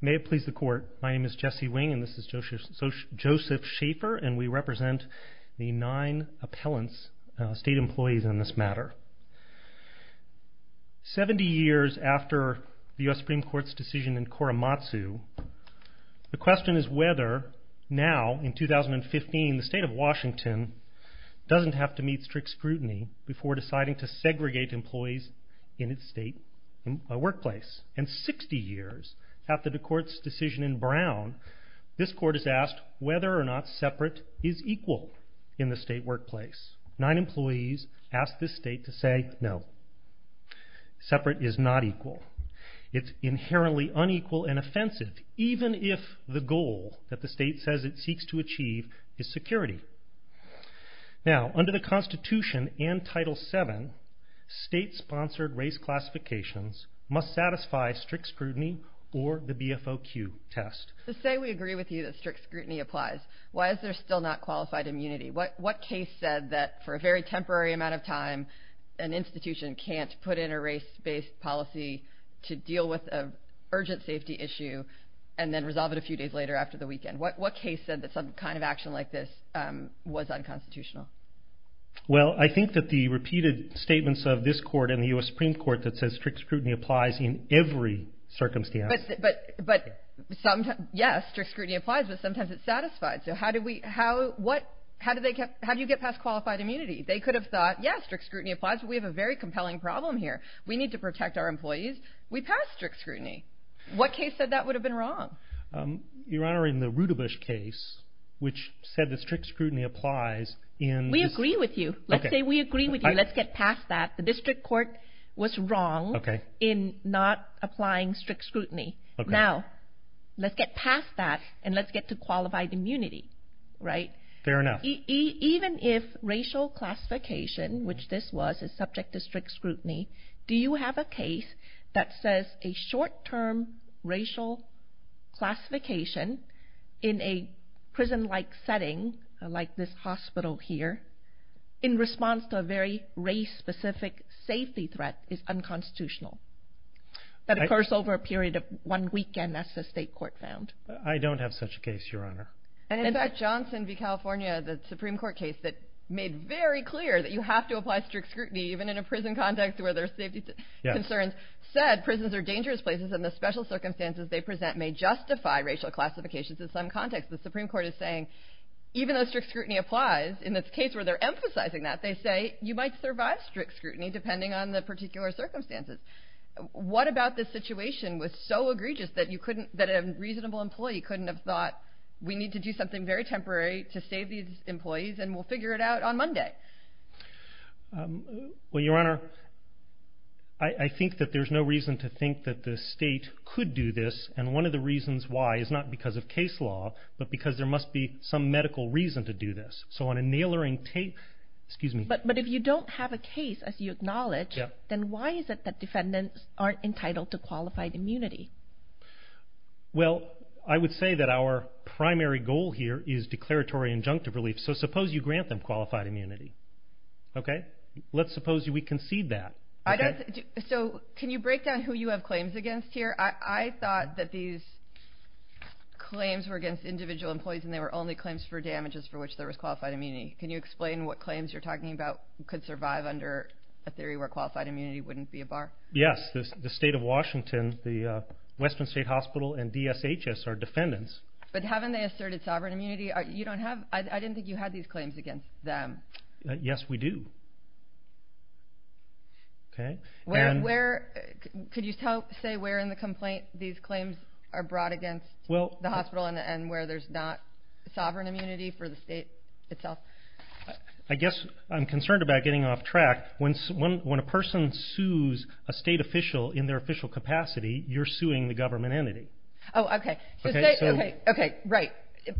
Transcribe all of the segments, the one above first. May it please the court, my name is Jesse Wing and this is Joseph Schaefer and we represent the nine appellants, state employees in this matter. Seventy years after the U.S. Supreme Court's decision in Korematsu, the question is whether now in 2015 the state of Washington doesn't have to meet strict scrutiny before deciding to segregate employees in its state workplace. And sixty years after the court's decision in Brown, this court is asked whether or not separate is equal in the state workplace. Nine employees ask this state to say no, separate is not equal. It's inherently unequal and offensive even if the goal that the state says it seeks to achieve is security. Now, under the Constitution and Title VII, state-sponsored race classifications must satisfy strict scrutiny or the BFOQ test. To say we agree with you that strict scrutiny applies, why is there still not qualified immunity? What case said that for a very temporary amount of time an institution can't put in a race-based policy to deal with an urgent safety issue and then resolve it a few days later after the weekend? What case said that some kind of action like this was unconstitutional? Well, I think that the repeated statements of this court and the U.S. Supreme Court that says strict scrutiny applies in every circumstance. But sometimes, yes, strict scrutiny applies, but sometimes it's satisfied. So how do you get past qualified immunity? They could have thought, yes, strict scrutiny applies, but we have a very compelling problem here. We need to protect our employees. We pass strict scrutiny. What case said that would have been wrong? Your Honor, in the Rutebush case, which said that strict scrutiny applies in— We agree with you. Okay. Let's say we agree with you. Let's get past that. The district court was wrong in not applying strict scrutiny. Okay. Now, let's get past that, and let's get to qualified immunity, right? Fair enough. Even if racial classification, which this was, is subject to strict scrutiny, do you have a case that says a short-term racial classification in a prison-like setting, like this hospital here, in response to a very race-specific safety threat is unconstitutional? That occurs over a period of one weekend, as the state court found. I don't have such a case, Your Honor. In fact, Johnson v. California, the Supreme Court case that made very clear that you have to apply strict scrutiny, even in a prison context where there are safety concerns, said prisons are dangerous places, and the special circumstances they present may justify racial classifications in some contexts. The Supreme Court is saying, even though strict scrutiny applies, in this case where they're emphasizing that, they say you might survive strict scrutiny depending on the particular circumstances. What about this situation was so egregious that a reasonable employee couldn't have thought, we need to do something very temporary to save these employees, and we'll figure it out on Monday? Well, Your Honor, I think that there's no reason to think that the state could do this, and one of the reasons why is not because of case law, but because there must be some medical reason to do this. So on a nailering tape, excuse me. But if you don't have a case, as you acknowledge, then why is it that defendants aren't entitled to qualified immunity? Well, I would say that our primary goal here is declaratory injunctive relief. So suppose you grant them qualified immunity. Let's suppose we concede that. So can you break down who you have claims against here? I thought that these claims were against individual employees, and they were only claims for damages for which there was qualified immunity. Can you explain what claims you're talking about could survive under a theory where qualified immunity wouldn't be a bar? Yes. The state of Washington, the Western State Hospital, and DSHS are defendants. But haven't they asserted sovereign immunity? I didn't think you had these claims against them. Yes, we do. Could you say where in the complaint these claims are brought against the hospital and where there's not sovereign immunity for the state itself? I guess I'm concerned about getting off track. When a person sues a state official in their official capacity, you're suing the government entity. Oh, okay. Okay, right.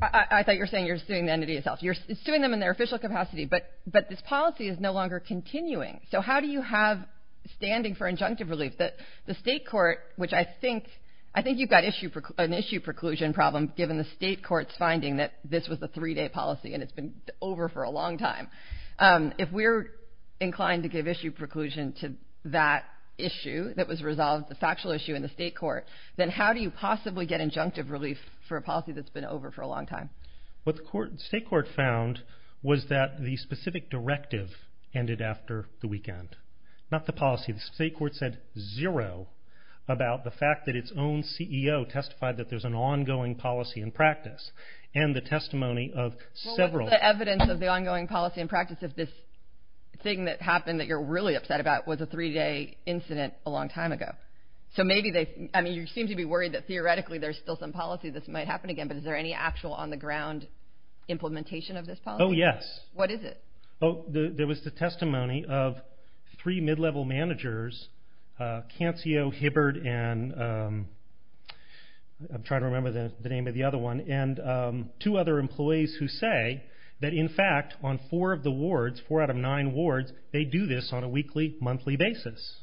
I thought you were saying you're suing the entity itself. You're suing them in their official capacity, but this policy is no longer continuing. So how do you have standing for injunctive relief? The state court, which I think you've got an issue preclusion problem given the state court's finding that this was a three-day policy and it's been over for a long time. If we're inclined to give issue preclusion to that issue that was resolved, the factual issue in the state court, then how do you possibly get injunctive relief for a policy that's been over for a long time? What the state court found was that the specific directive ended after the weekend, not the policy. The state court said zero about the fact that its own CEO testified that there's an ongoing policy in practice and the testimony of several. Well, what's the evidence of the ongoing policy in practice if this thing that happened that you're really upset about was a three-day incident a long time ago? So maybe they, I mean, you seem to be worried that theoretically there's still some policy this might happen again, but is there any actual on-the-ground implementation of this policy? Oh, yes. What is it? Oh, there was the testimony of three mid-level managers, Cancio, Hibbard, and I'm trying to remember the name of the other one, and two other employees who say that, in fact, on four of the wards, four out of nine wards, they do this on a weekly, monthly basis.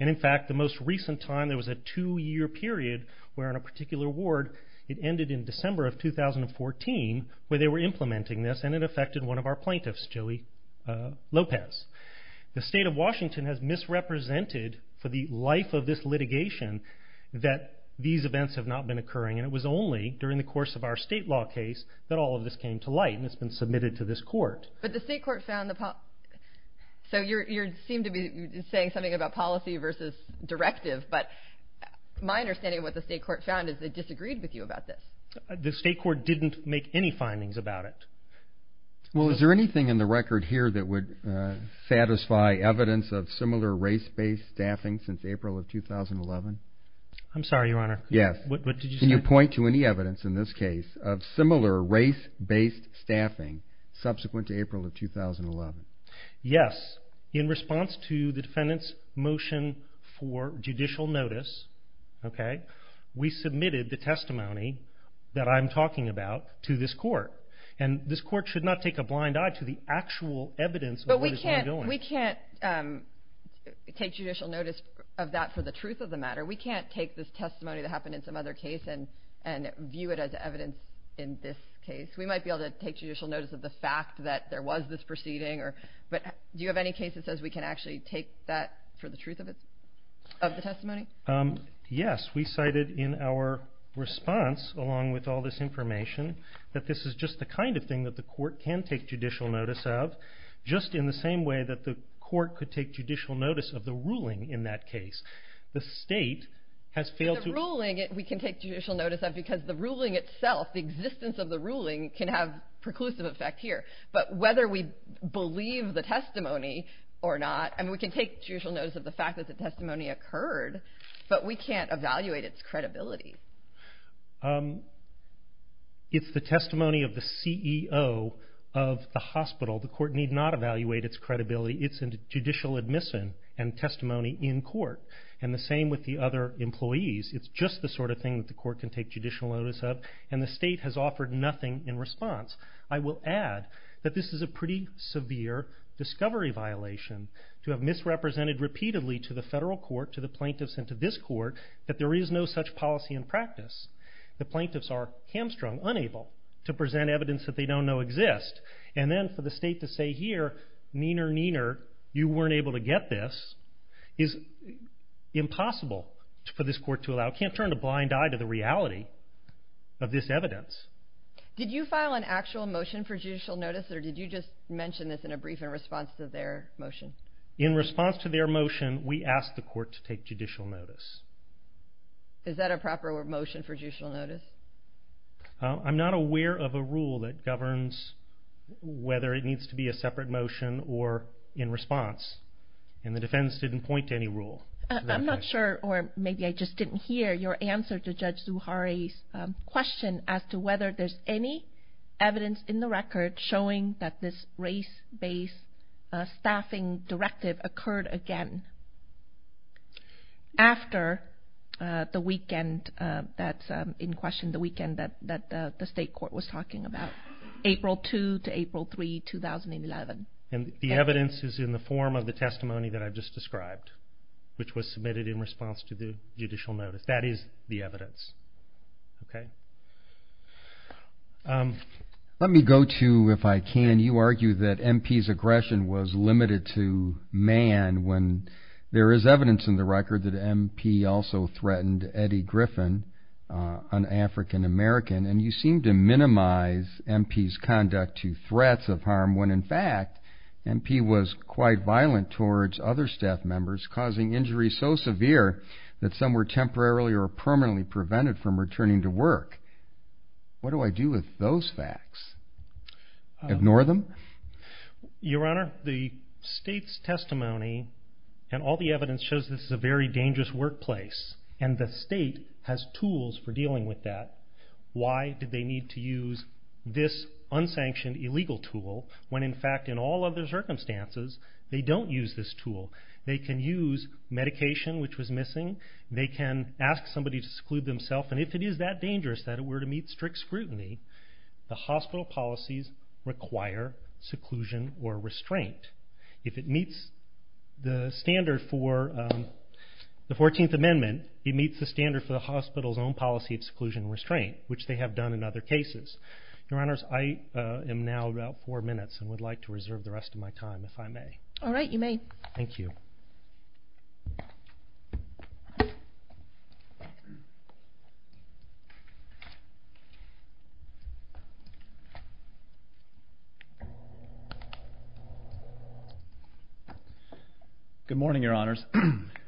And, in fact, the most recent time there was a two-year period where, in a particular ward, it ended in December of 2014 where they were implementing this, and it affected one of our plaintiffs, Joey Lopez. The state of Washington has misrepresented for the life of this litigation that these events have not been occurring, and it was only during the course of our state law case that all of this came to light, and it's been submitted to this court. But the state court found the policy. So you seem to be saying something about policy versus directive, but my understanding of what the state court found is they disagreed with you about this. The state court didn't make any findings about it. Well, is there anything in the record here that would satisfy evidence of similar race-based staffing since April of 2011? I'm sorry, Your Honor. Yes. What did you say? Can you point to any evidence in this case of similar race-based staffing subsequent to April of 2011? Yes. In response to the defendant's motion for judicial notice, we submitted the testimony that I'm talking about to this court, and this court should not take a blind eye to the actual evidence of what is ongoing. But we can't take judicial notice of that for the truth of the matter. We can't take this testimony that happened in some other case and view it as evidence in this case. We might be able to take judicial notice of the fact that there was this proceeding, but do you have any case that says we can actually take that for the truth of the testimony? Yes. We cited in our response, along with all this information, that this is just the kind of thing that the court can take judicial notice of, just in the same way that the court could take judicial notice of the ruling in that case. The state has failed to- The ruling we can take judicial notice of because the ruling itself, the existence of the ruling can have preclusive effect here. But whether we believe the testimony or not, and we can take judicial notice of the fact that the testimony occurred, but we can't evaluate its credibility. It's the testimony of the CEO of the hospital. The court need not evaluate its credibility. It's a judicial admission and testimony in court. And the same with the other employees. It's just the sort of thing that the court can take judicial notice of, and the state has offered nothing in response. I will add that this is a pretty severe discovery violation to have misrepresented repeatedly to the federal court, to the plaintiffs and to this court, that there is no such policy in practice. The plaintiffs are hamstrung, unable to present evidence that they don't know exists. And then for the state to say here, neener, neener, you weren't able to get this, is impossible for this court to allow. I can't turn a blind eye to the reality of this evidence. Did you file an actual motion for judicial notice, or did you just mention this in a brief in response to their motion? In response to their motion, we asked the court to take judicial notice. Is that a proper motion for judicial notice? I'm not aware of a rule that governs whether it needs to be a separate motion or in response. And the defense didn't point to any rule. I'm not sure, or maybe I just didn't hear, your answer to Judge Zuhari's question as to whether there's any evidence in the record showing that this race-based staffing directive occurred again after the weekend that's in question, the weekend that the state court was talking about, April 2 to April 3, 2011. The evidence is in the form of the testimony that I just described, which was submitted in response to the judicial notice. That is the evidence. Let me go to, if I can, you argue that MP's aggression was limited to man when there is evidence in the record that MP also threatened Eddie Griffin, an African-American, and you seem to minimize MP's conduct to threats of harm when in fact MP was quite violent towards other staff members, causing injuries so severe that some were temporarily or permanently prevented from returning to work. What do I do with those facts? Ignore them? Your Honor, the state's testimony and all the evidence shows this is a very dangerous workplace, and the state has tools for dealing with that. Why did they need to use this unsanctioned illegal tool when in fact in all other circumstances they don't use this tool? They can use medication which was missing. They can ask somebody to seclude themselves, and if it is that dangerous that it were to meet strict scrutiny, the hospital policies require seclusion or restraint. If it meets the standard for the 14th Amendment, it meets the standard for the hospital's own policy of seclusion and restraint, which they have done in other cases. Your Honors, I am now about four minutes, and would like to reserve the rest of my time if I may. All right, you may. Thank you. Good morning, Your Honors.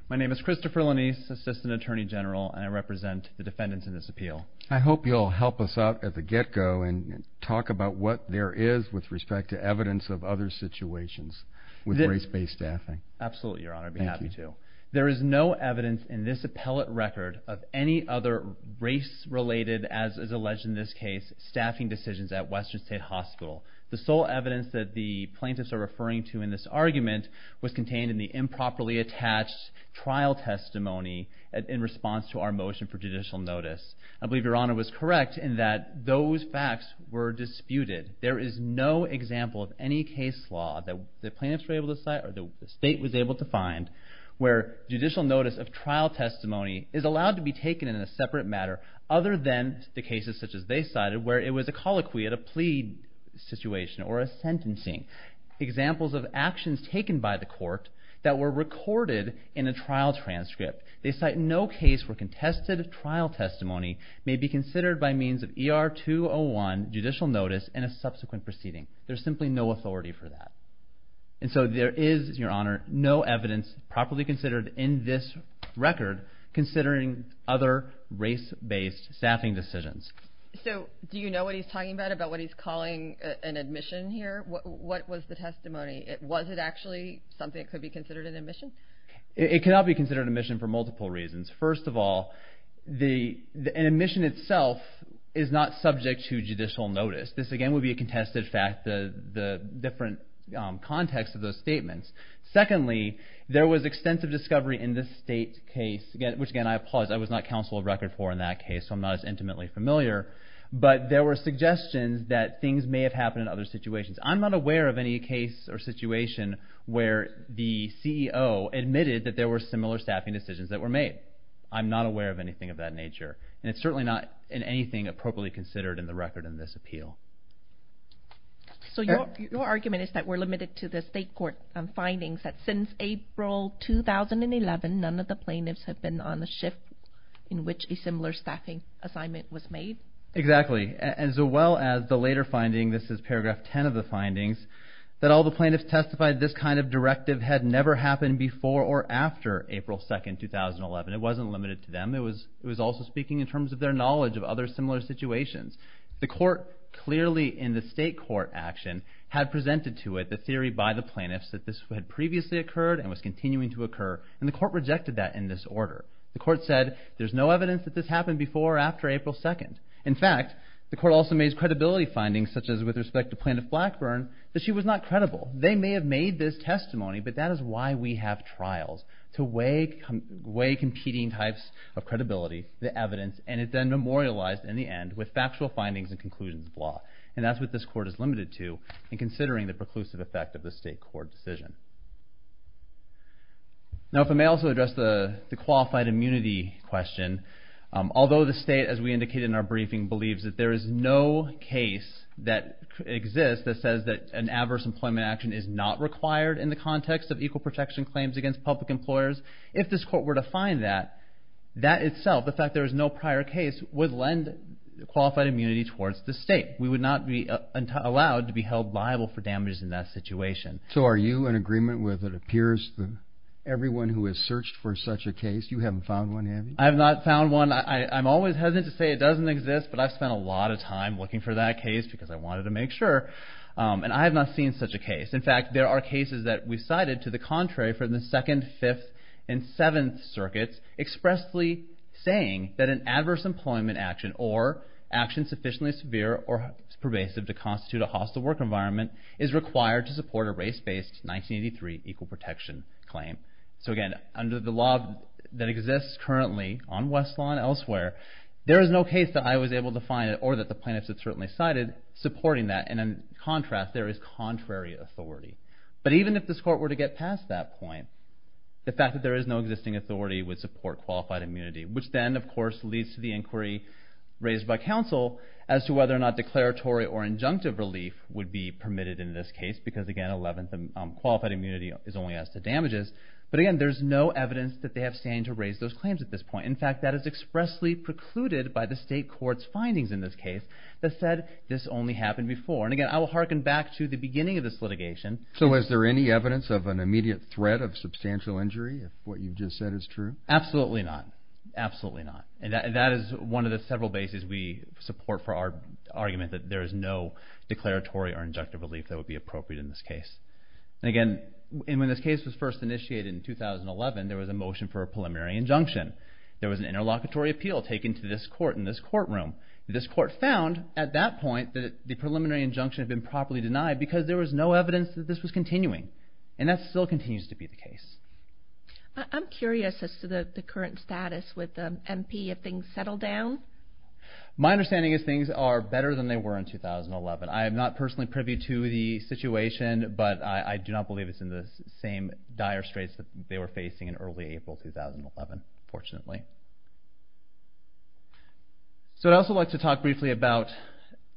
My name is Christopher Lanise, Assistant Attorney General, and I represent the defendants in this appeal. I hope you'll help us out at the get-go and talk about what there is with respect to evidence of other situations with race-based staffing. Absolutely, Your Honor. I'd be happy to. There is no evidence in this appellate record of any other race-related, as is alleged in this case, staffing decisions at Western State Hospital. The sole evidence that the plaintiffs are referring to in this argument was contained in the improperly attached trial testimony in response to our motion for judicial notice. I believe Your Honor was correct in that those facts were disputed. There is no example of any case law that the state was able to find where judicial notice of trial testimony is allowed to be taken in a separate matter other than the cases such as they cited, where it was a colloquy at a plea situation or a sentencing. Examples of actions taken by the court that were recorded in a trial transcript. They cite no case where contested trial testimony may be considered by means of ER 201 judicial notice in a subsequent proceeding. There's simply no authority for that. And so there is, Your Honor, no evidence properly considered in this record considering other race-based staffing decisions. So do you know what he's talking about, about what he's calling an admission here? What was the testimony? Was it actually something that could be considered an admission? It cannot be considered an admission for multiple reasons. First of all, an admission itself is not subject to judicial notice. This, again, would be a contested fact, the different context of those statements. Secondly, there was extensive discovery in this state case, which, again, I applaud. I was not counsel of record for in that case, so I'm not as intimately familiar. But there were suggestions that things may have happened in other situations. I'm not aware of any case or situation where the CEO admitted that there were similar staffing decisions that were made. I'm not aware of anything of that nature. And it's certainly not in anything appropriately considered in the record in this appeal. So your argument is that we're limited to the state court findings that since April 2011, none of the plaintiffs have been on the shift in which a similar staffing assignment was made? Exactly, as well as the later finding, this is paragraph 10 of the findings, that all the plaintiffs testified this kind of directive had never happened before or after April 2, 2011. It wasn't limited to them. It was also speaking in terms of their knowledge of other similar situations. The court clearly in the state court action had presented to it the theory by the plaintiffs that this had previously occurred and was continuing to occur, and the court rejected that in this order. The court said there's no evidence that this happened before or after April 2. In fact, the court also made credibility findings, such as with respect to Plaintiff Blackburn, that she was not credible. They may have made this testimony, but that is why we have trials to weigh competing types of credibility, the evidence, and it's then memorialized in the end with factual findings and conclusions of law. And that's what this court is limited to in considering the preclusive effect of the state court decision. Now if I may also address the qualified immunity question. Although the state, as we indicated in our briefing, believes that there is no case that exists that says that an adverse employment action is not required in the context of equal protection claims against public employers, if this court were to find that, that itself, the fact there is no prior case, would lend qualified immunity towards the state. We would not be allowed to be held liable for damages in that situation. So are you in agreement with, it appears, everyone who has searched for such a case? You haven't found one, have you? I've not found one. I'm always hesitant to say it doesn't exist, but I've spent a lot of time looking for that case because I wanted to make sure. And I have not seen such a case. In fact, there are cases that we cited to the contrary for the 2nd, 5th, and 7th circuits expressly saying that an adverse employment action or action sufficiently severe or pervasive to constitute a hostile work environment is required to support a race-based 1983 equal protection claim. So again, under the law that exists currently on Westlaw and elsewhere, there is no case that I was able to find or that the plaintiffs had certainly cited supporting that. And in contrast, there is contrary authority. But even if this Court were to get past that point, the fact that there is no existing authority would support qualified immunity, which then, of course, leads to the inquiry raised by counsel as to whether or not declaratory or injunctive relief would be permitted in this case because, again, qualified immunity is only as to damages. But again, there's no evidence that they have standing to raise those claims at this point. In fact, that is expressly precluded by the state court's findings in this case that said this only happened before. And again, I will hearken back to the beginning of this litigation. So is there any evidence of an immediate threat of substantial injury if what you've just said is true? Absolutely not. Absolutely not. And that is one of the several bases we support for our argument that there is no declaratory or injunctive relief that would be appropriate in this case. And again, when this case was first initiated in 2011, there was a motion for a preliminary injunction. There was an interlocutory appeal taken to this court in this courtroom. This court found at that point that the preliminary injunction had been properly denied because there was no evidence that this was continuing. And that still continues to be the case. I'm curious as to the current status with MP. Have things settled down? My understanding is things are better than they were in 2011. I am not personally privy to the situation, but I do not believe it's in the same dire straits that they were facing in early April 2011, fortunately. So I'd also like to talk briefly about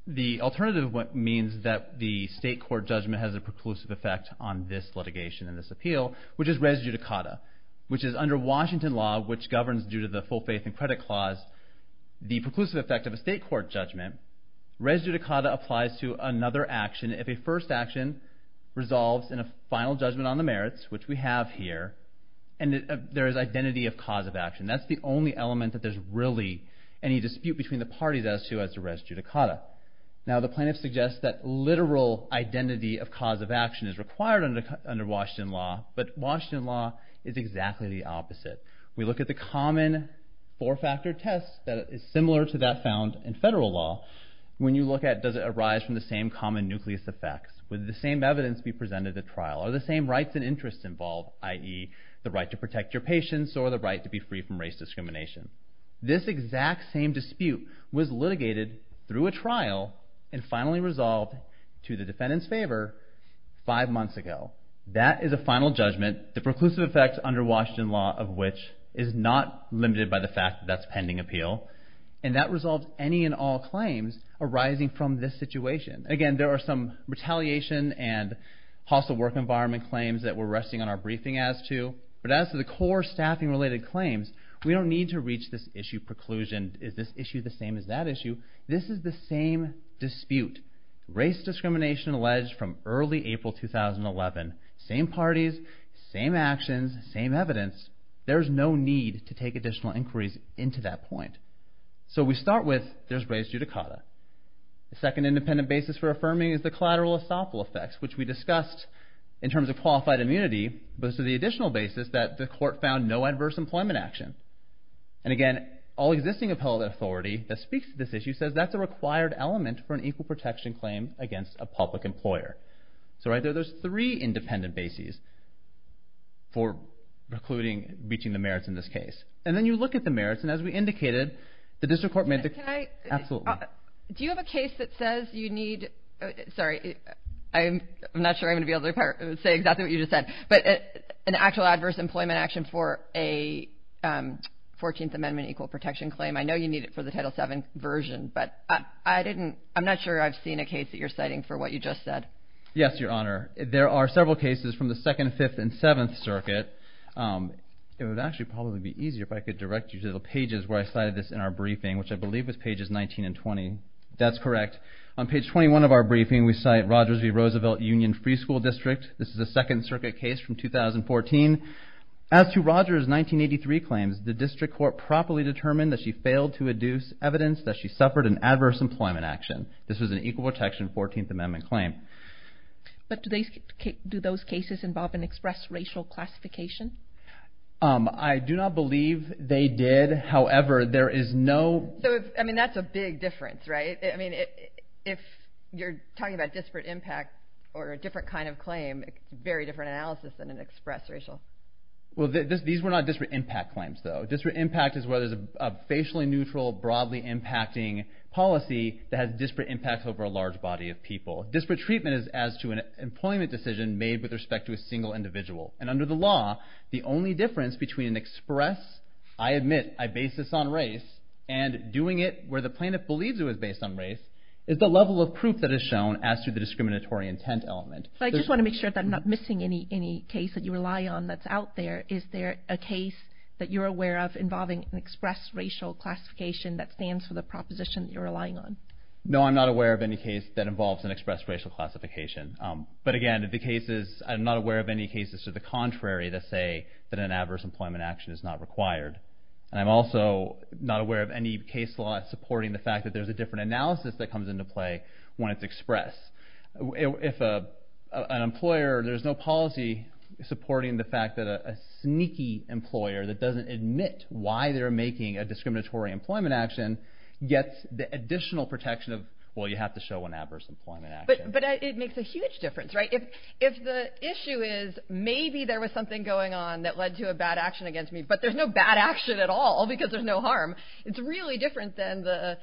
the alternative of what means that the state court judgment has a preclusive effect on this litigation and this appeal, which is res judicata, which is under Washington law, which governs due to the full faith and credit clause, the preclusive effect of a state court judgment. Res judicata applies to another action. If a first action resolves in a final judgment on the merits, which we have here, and there is identity of cause of action, that's the only element that there's really any dispute between the parties as to res judicata. Now the plaintiff suggests that literal identity of cause of action is required under Washington law, but Washington law is exactly the opposite. We look at the common four-factor test that is similar to that found in federal law. When you look at does it arise from the same common nucleus effects, would the same evidence be presented at trial, are the same rights and interests involved, i.e. the right to protect your patients or the right to be free from race discrimination. This exact same dispute was litigated through a trial and finally resolved to the defendant's favor five months ago. That is a final judgment, the preclusive effect under Washington law of which is not limited by the fact that that's pending appeal, and that resolves any and all claims arising from this situation. Again, there are some retaliation and hostile work environment claims that we're resting on our briefing as to, but as to the core staffing-related claims, we don't need to reach this issue preclusion, is this issue the same as that issue? This is the same dispute. Race discrimination alleged from early April 2011. Same parties, same actions, same evidence. There's no need to take additional inquiries into that point. So we start with there's race judicata. The second independent basis for affirming is the collateral estoppel effects, which we discussed in terms of qualified immunity, but it's the additional basis that the court found no adverse employment action. And again, all existing appellate authority that speaks to this issue says that's a required element for an equal protection claim against a public employer. So right there, there's three independent bases for reaching the merits in this case. And then you look at the merits, and as we indicated, the district court made the case. Absolutely. Do you have a case that says you need, sorry, I'm not sure I'm going to be able to say exactly what you just said, but an actual adverse employment action for a 14th Amendment equal protection claim. I know you need it for the Title VII version, but I'm not sure I've seen a case that you're citing for what you just said. Yes, Your Honor. There are several cases from the 2nd, 5th, and 7th Circuit. It would actually probably be easier if I could direct you to the pages where I cited this in our briefing, which I believe was pages 19 and 20. That's correct. On page 21 of our briefing, we cite Rogers v. Roosevelt Union Free School District. This is a 2nd Circuit case from 2014. As to Rogers' 1983 claims, the district court properly determined that she failed to adduce evidence that she suffered an adverse employment action. This was an equal protection 14th Amendment claim. But do those cases involve an express racial classification? I do not believe they did. However, there is no... I mean, that's a big difference, right? I mean, if you're talking about disparate impact or a different kind of claim, it's a very different analysis than an express racial. Well, these were not disparate impact claims, though. Disparate impact is where there's a facially neutral, broadly impacting policy that has disparate impact over a large body of people. Disparate treatment is as to an employment decision made with respect to a single individual. And under the law, the only difference between an express, I admit, I base this on race, and doing it where the plaintiff believes it was based on race is the level of proof that is shown as to the discriminatory intent element. I just want to make sure that I'm not missing any case that you rely on that's out there. Is there a case that you're aware of involving an express racial classification that stands for the proposition that you're relying on? No, I'm not aware of any case that involves an express racial classification. But again, the cases... I'm not aware of any cases to the contrary that say that an adverse employment action is not required. And I'm also not aware of any case law supporting the fact that there's a different analysis that comes into play when it's expressed. If an employer... There's no policy supporting the fact that a sneaky employer that doesn't admit why they're making a discriminatory employment action gets the additional protection of, well, you have to show an adverse employment action. But it makes a huge difference, right? If the issue is maybe there was something going on that led to a bad action against me, but there's no bad action at all because there's no harm, it's really different than the...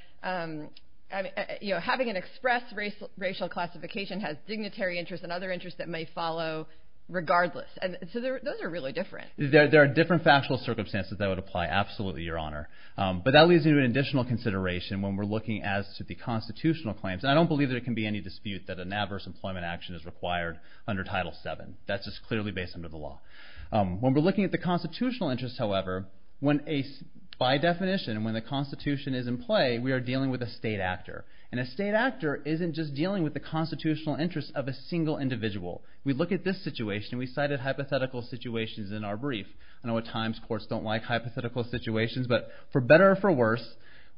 You know, having an express racial classification has dignitary interests and other interests that may follow regardless. So those are really different. There are different factual circumstances that would apply. Absolutely, Your Honor. But that leads into an additional consideration when we're looking as to the constitutional claims. And I don't believe there can be any dispute that an adverse employment action is required under Title VII. That's just clearly based under the law. When we're looking at the constitutional interests, however, by definition, when the Constitution is in play, we are dealing with a state actor. And a state actor isn't just dealing with the constitutional interests of a single individual. We look at this situation. We cited hypothetical situations in our brief. I know at times courts don't like hypothetical situations, but for better or for worse,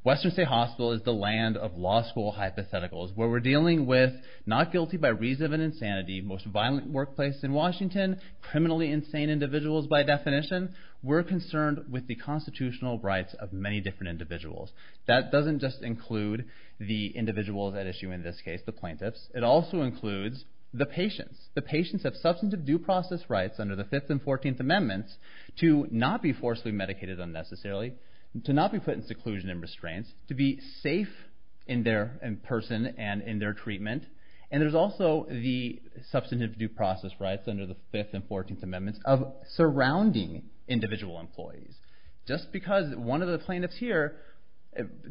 Western State Hospital is the land of law school hypotheticals where we're dealing with not guilty by reason of insanity, most violent workplace in Washington, criminally insane individuals by definition. We're concerned with the constitutional rights of many different individuals. That doesn't just include the individuals at issue in this case, the plaintiffs. It also includes the patients. The patients have substantive due process rights under the Fifth and Fourteenth Amendments to not be forcibly medicated unnecessarily, to not be put in seclusion and restraints, to be safe in person and in their treatment. And there's also the substantive due process rights under the Fifth and Fourteenth Amendments of surrounding individual employees. Just because one of the plaintiffs here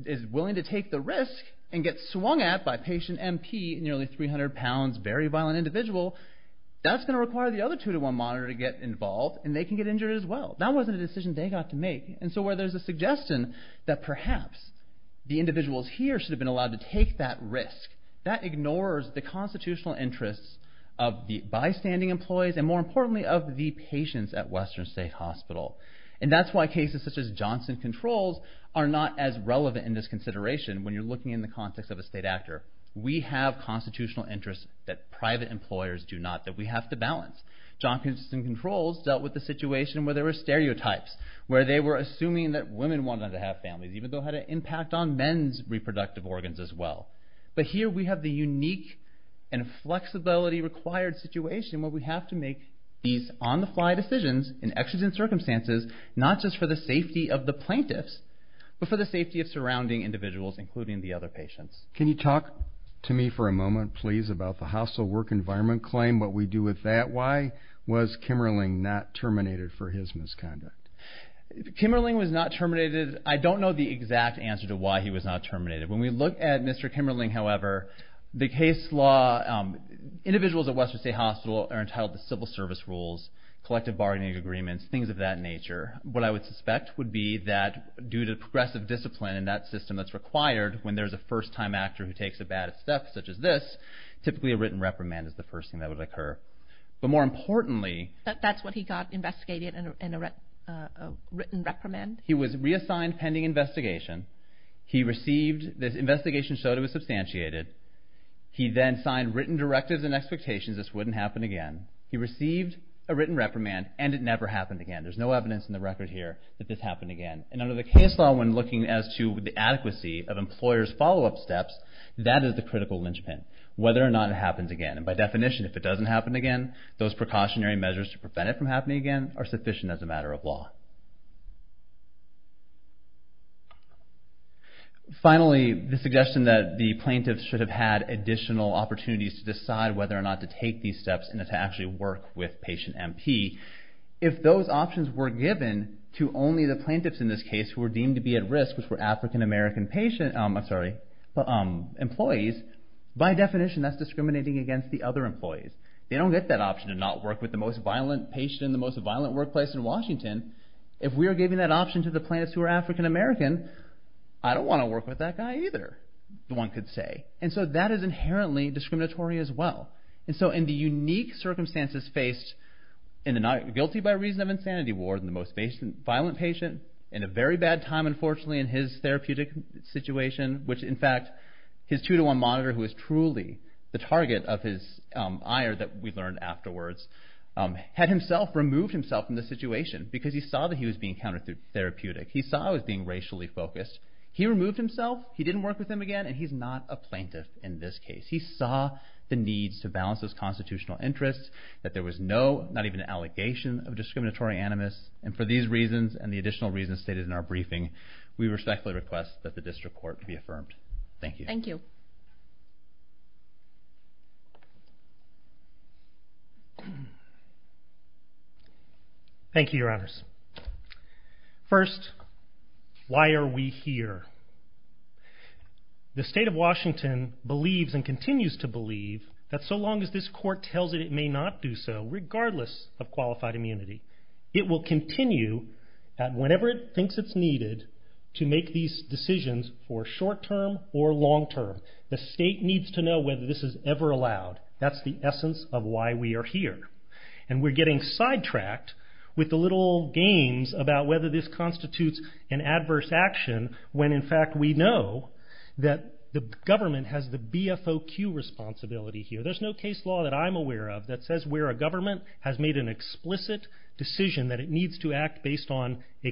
is willing to take the risk and get swung at by patient MP, nearly 300 pounds, very violent individual, that's going to require the other two-to-one monitor to get involved, and they can get injured as well. That wasn't a decision they got to make. And so where there's a suggestion that perhaps the individuals here should have been allowed to take that risk, that ignores the constitutional interests of the bystanding employees and, more importantly, of the patients at Western State Hospital. And that's why cases such as Johnson Controls are not as relevant in this consideration when you're looking in the context of a state actor. We have constitutional interests that private employers do not, that we have to balance. Johnson Controls dealt with the situation where there were stereotypes, where they were assuming that women wanted to have families, even though it had an impact on men's reproductive organs as well. But here we have the unique and flexibility-required situation where we have to make these on-the-fly decisions in exigent circumstances, not just for the safety of the plaintiffs, but for the safety of surrounding individuals, including the other patients. Can you talk to me for a moment, please, about the household work environment claim, what we do with that? Why was Kimmerling not terminated for his misconduct? Kimmerling was not terminated. I don't know the exact answer to why he was not terminated. When we look at Mr. Kimmerling, however, the case law... Individuals at Western State Hospital are entitled to civil service rules, collective bargaining agreements, things of that nature. What I would suspect would be that due to progressive discipline in that system that's required when there's a first-time actor who takes a bad step such as this, typically a written reprimand is the first thing that would occur. But more importantly... That's what he got, investigated and a written reprimand? He was reassigned pending investigation. The investigation showed it was substantiated. He then signed written directives and expectations this wouldn't happen again. He received a written reprimand, and it never happened again. There's no evidence in the record here that this happened again. Under the case law, when looking at the adequacy of employers' follow-up steps, that is the critical linchpin. Whether or not it happens again. By definition, if it doesn't happen again, those precautionary measures to prevent it from happening again are sufficient as a matter of law. Finally, the suggestion that the plaintiffs should have had additional opportunities to decide whether or not to take these steps and to actually work with patient MP. If those options were given to only the plaintiffs in this case who were deemed to be at risk, which were African-American employees, by definition that's discriminating against the other employees. They don't get that option to not work with the most violent patient in the most violent workplace in Washington. If we're giving that option to the plaintiffs who are African-American, I don't want to work with that guy either, one could say. That is inherently discriminatory as well. In the unique circumstances faced in the not guilty by reason of insanity ward in the most violent patient in a very bad time, unfortunately, in his therapeutic situation, which in fact his two-to-one monitor who is truly the target of his ire that we learned afterwards, had himself removed himself from the situation because he saw that he was being counter-therapeutic. He saw he was being racially focused. He removed himself. He didn't work with him again, and he's not a plaintiff in this case. He saw the needs to balance those constitutional interests, that there was not even an allegation of discriminatory animus, and for these reasons and the additional reasons stated in our briefing, we respectfully request that the district court be affirmed. Thank you. Thank you, Your Honors. First, why are we here? The state of Washington believes and continues to believe that so long as this court tells it it may not do so, regardless of qualified immunity, it will continue that whenever it thinks it's needed to make these decisions for short-term or long-term. The state needs to know whether this is ever allowed. That's the essence of why we are here. And we're getting sidetracked with the little games about whether this constitutes an adverse action, when in fact we know that the government has the BFOQ responsibility here. There's no case law that I'm aware of that says where a government has made an explicit decision that it needs to act based on a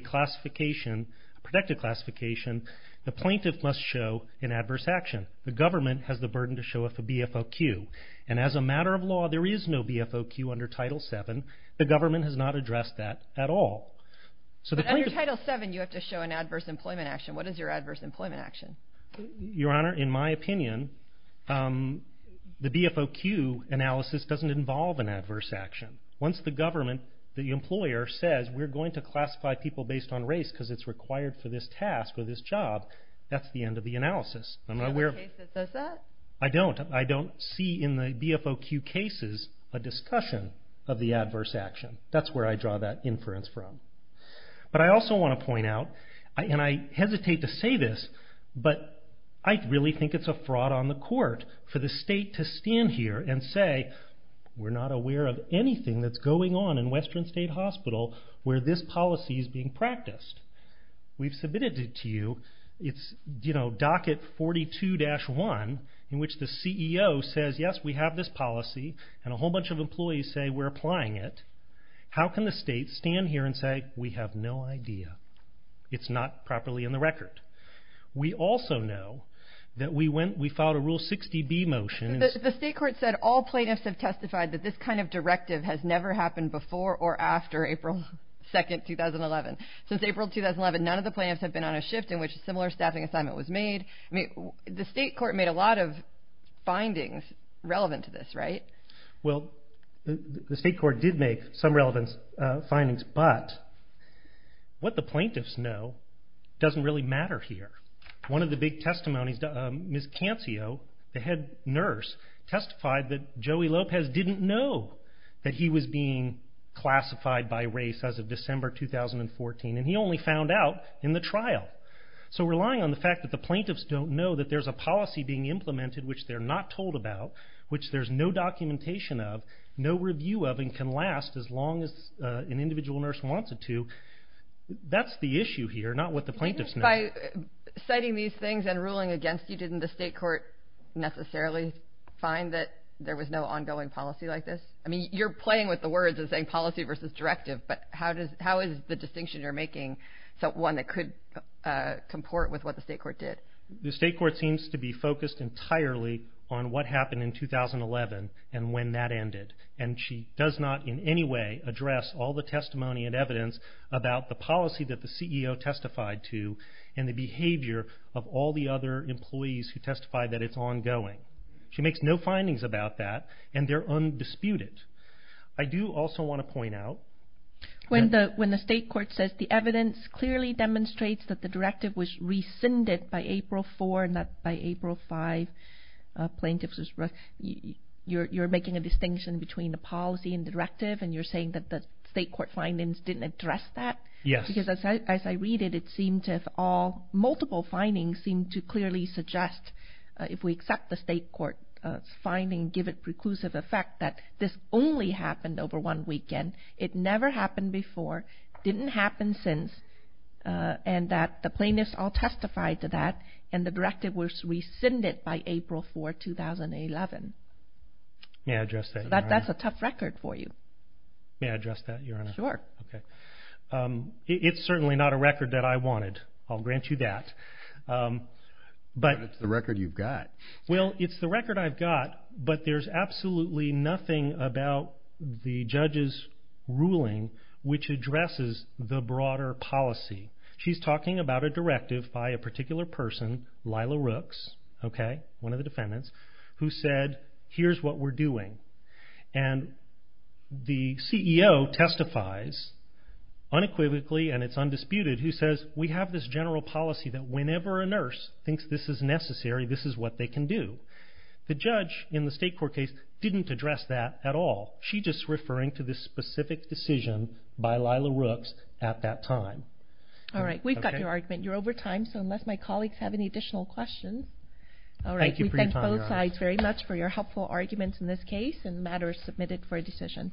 protected classification, the plaintiff must show an adverse action. The government has the burden to show a BFOQ. And as a matter of law, there is no BFOQ under Title VII. The government has not addressed that at all. But under Title VII, you have to show an adverse employment action. What is your adverse employment action? Your Honor, in my opinion, the BFOQ analysis doesn't involve an adverse action. Once the government, the employer, says we're going to classify people based on race because it's required for this task or this job, that's the end of the analysis. I don't see in the BFOQ cases a discussion of the adverse action. That's where I draw that inference from. But I also want to point out, and I hesitate to say this, but I really think it's a fraud on the court for the state to stand here and say we're not aware of anything that's going on in Western State Hospital where this policy is being practiced. We've submitted it to you. It's docket 42-1 in which the CEO says, yes, we have this policy, and a whole bunch of employees say we're applying it. How can the state stand here and say we have no idea? It's not properly in the record. We also know that we filed a Rule 60B motion. The state court said all plaintiffs have testified that this kind of directive has never happened before or after April 2, 2011. Since April 2011, none of the plaintiffs have been on a shift in which a similar staffing assignment was made. The state court made a lot of findings relevant to this, right? The state court did make some relevant findings, but what the plaintiffs know doesn't really matter here. One of the big testimonies, Ms. Cancio, the head nurse, testified that Joey Lopez didn't know that he was being classified by race as of December 2014, and he only found out in the trial. So relying on the fact that the plaintiffs don't know that there's a policy being implemented which they're not told about, which there's no documentation of, no review of, and can last as long as an individual nurse wants it to, that's the issue here, not what the plaintiffs know. By citing these things and ruling against you, didn't the state court necessarily find that there was no ongoing policy like this? I mean, you're playing with the words of saying policy versus directive, but how is the distinction you're making one that could comport with what the state court did? The state court seems to be focused entirely on what happened in 2011 and when that ended, and she does not in any way address all the testimony and evidence about the policy that the CEO testified to and the behavior of all the other employees who testified that it's ongoing. She makes no findings about that, and they're undisputed. I do also want to point out... When the state court says the evidence clearly demonstrates that the directive was rescinded by April 4 and not by April 5, plaintiffs were, you're making a distinction between the policy and the directive, and you're saying that the state court findings didn't address that? Yes. Because as I read it, it seemed to have all, multiple findings seemed to clearly suggest, if we the state court's findings give it preclusive effect, that this only happened over one weekend. It never happened before, didn't happen since, and that the plaintiffs all testified to that and the directive was rescinded by April 4, 2011. May I address that, Your Honor? That's a tough record for you. May I address that, Your Honor? Sure. It's certainly not a record that I wanted. I'll grant you that. But... It's the record I've got, but there's absolutely nothing about the judge's ruling which addresses the broader policy. She's talking about a directive by a particular person, Lila Rooks, okay, one of the defendants, who said here's what we're doing. And the CEO testifies unequivocally, and it's undisputed, who says, we have this general policy that whenever a nurse thinks this is something she can do. The judge in the state court case didn't address that at all. She's just referring to this specific decision by Lila Rooks at that time. Alright, we've got your argument. You're over time, so unless my colleagues have any additional questions... Thank you for your time, Your Honor. We thank both sides very much for your helpful arguments in this case, and the matter is submitted for a decision.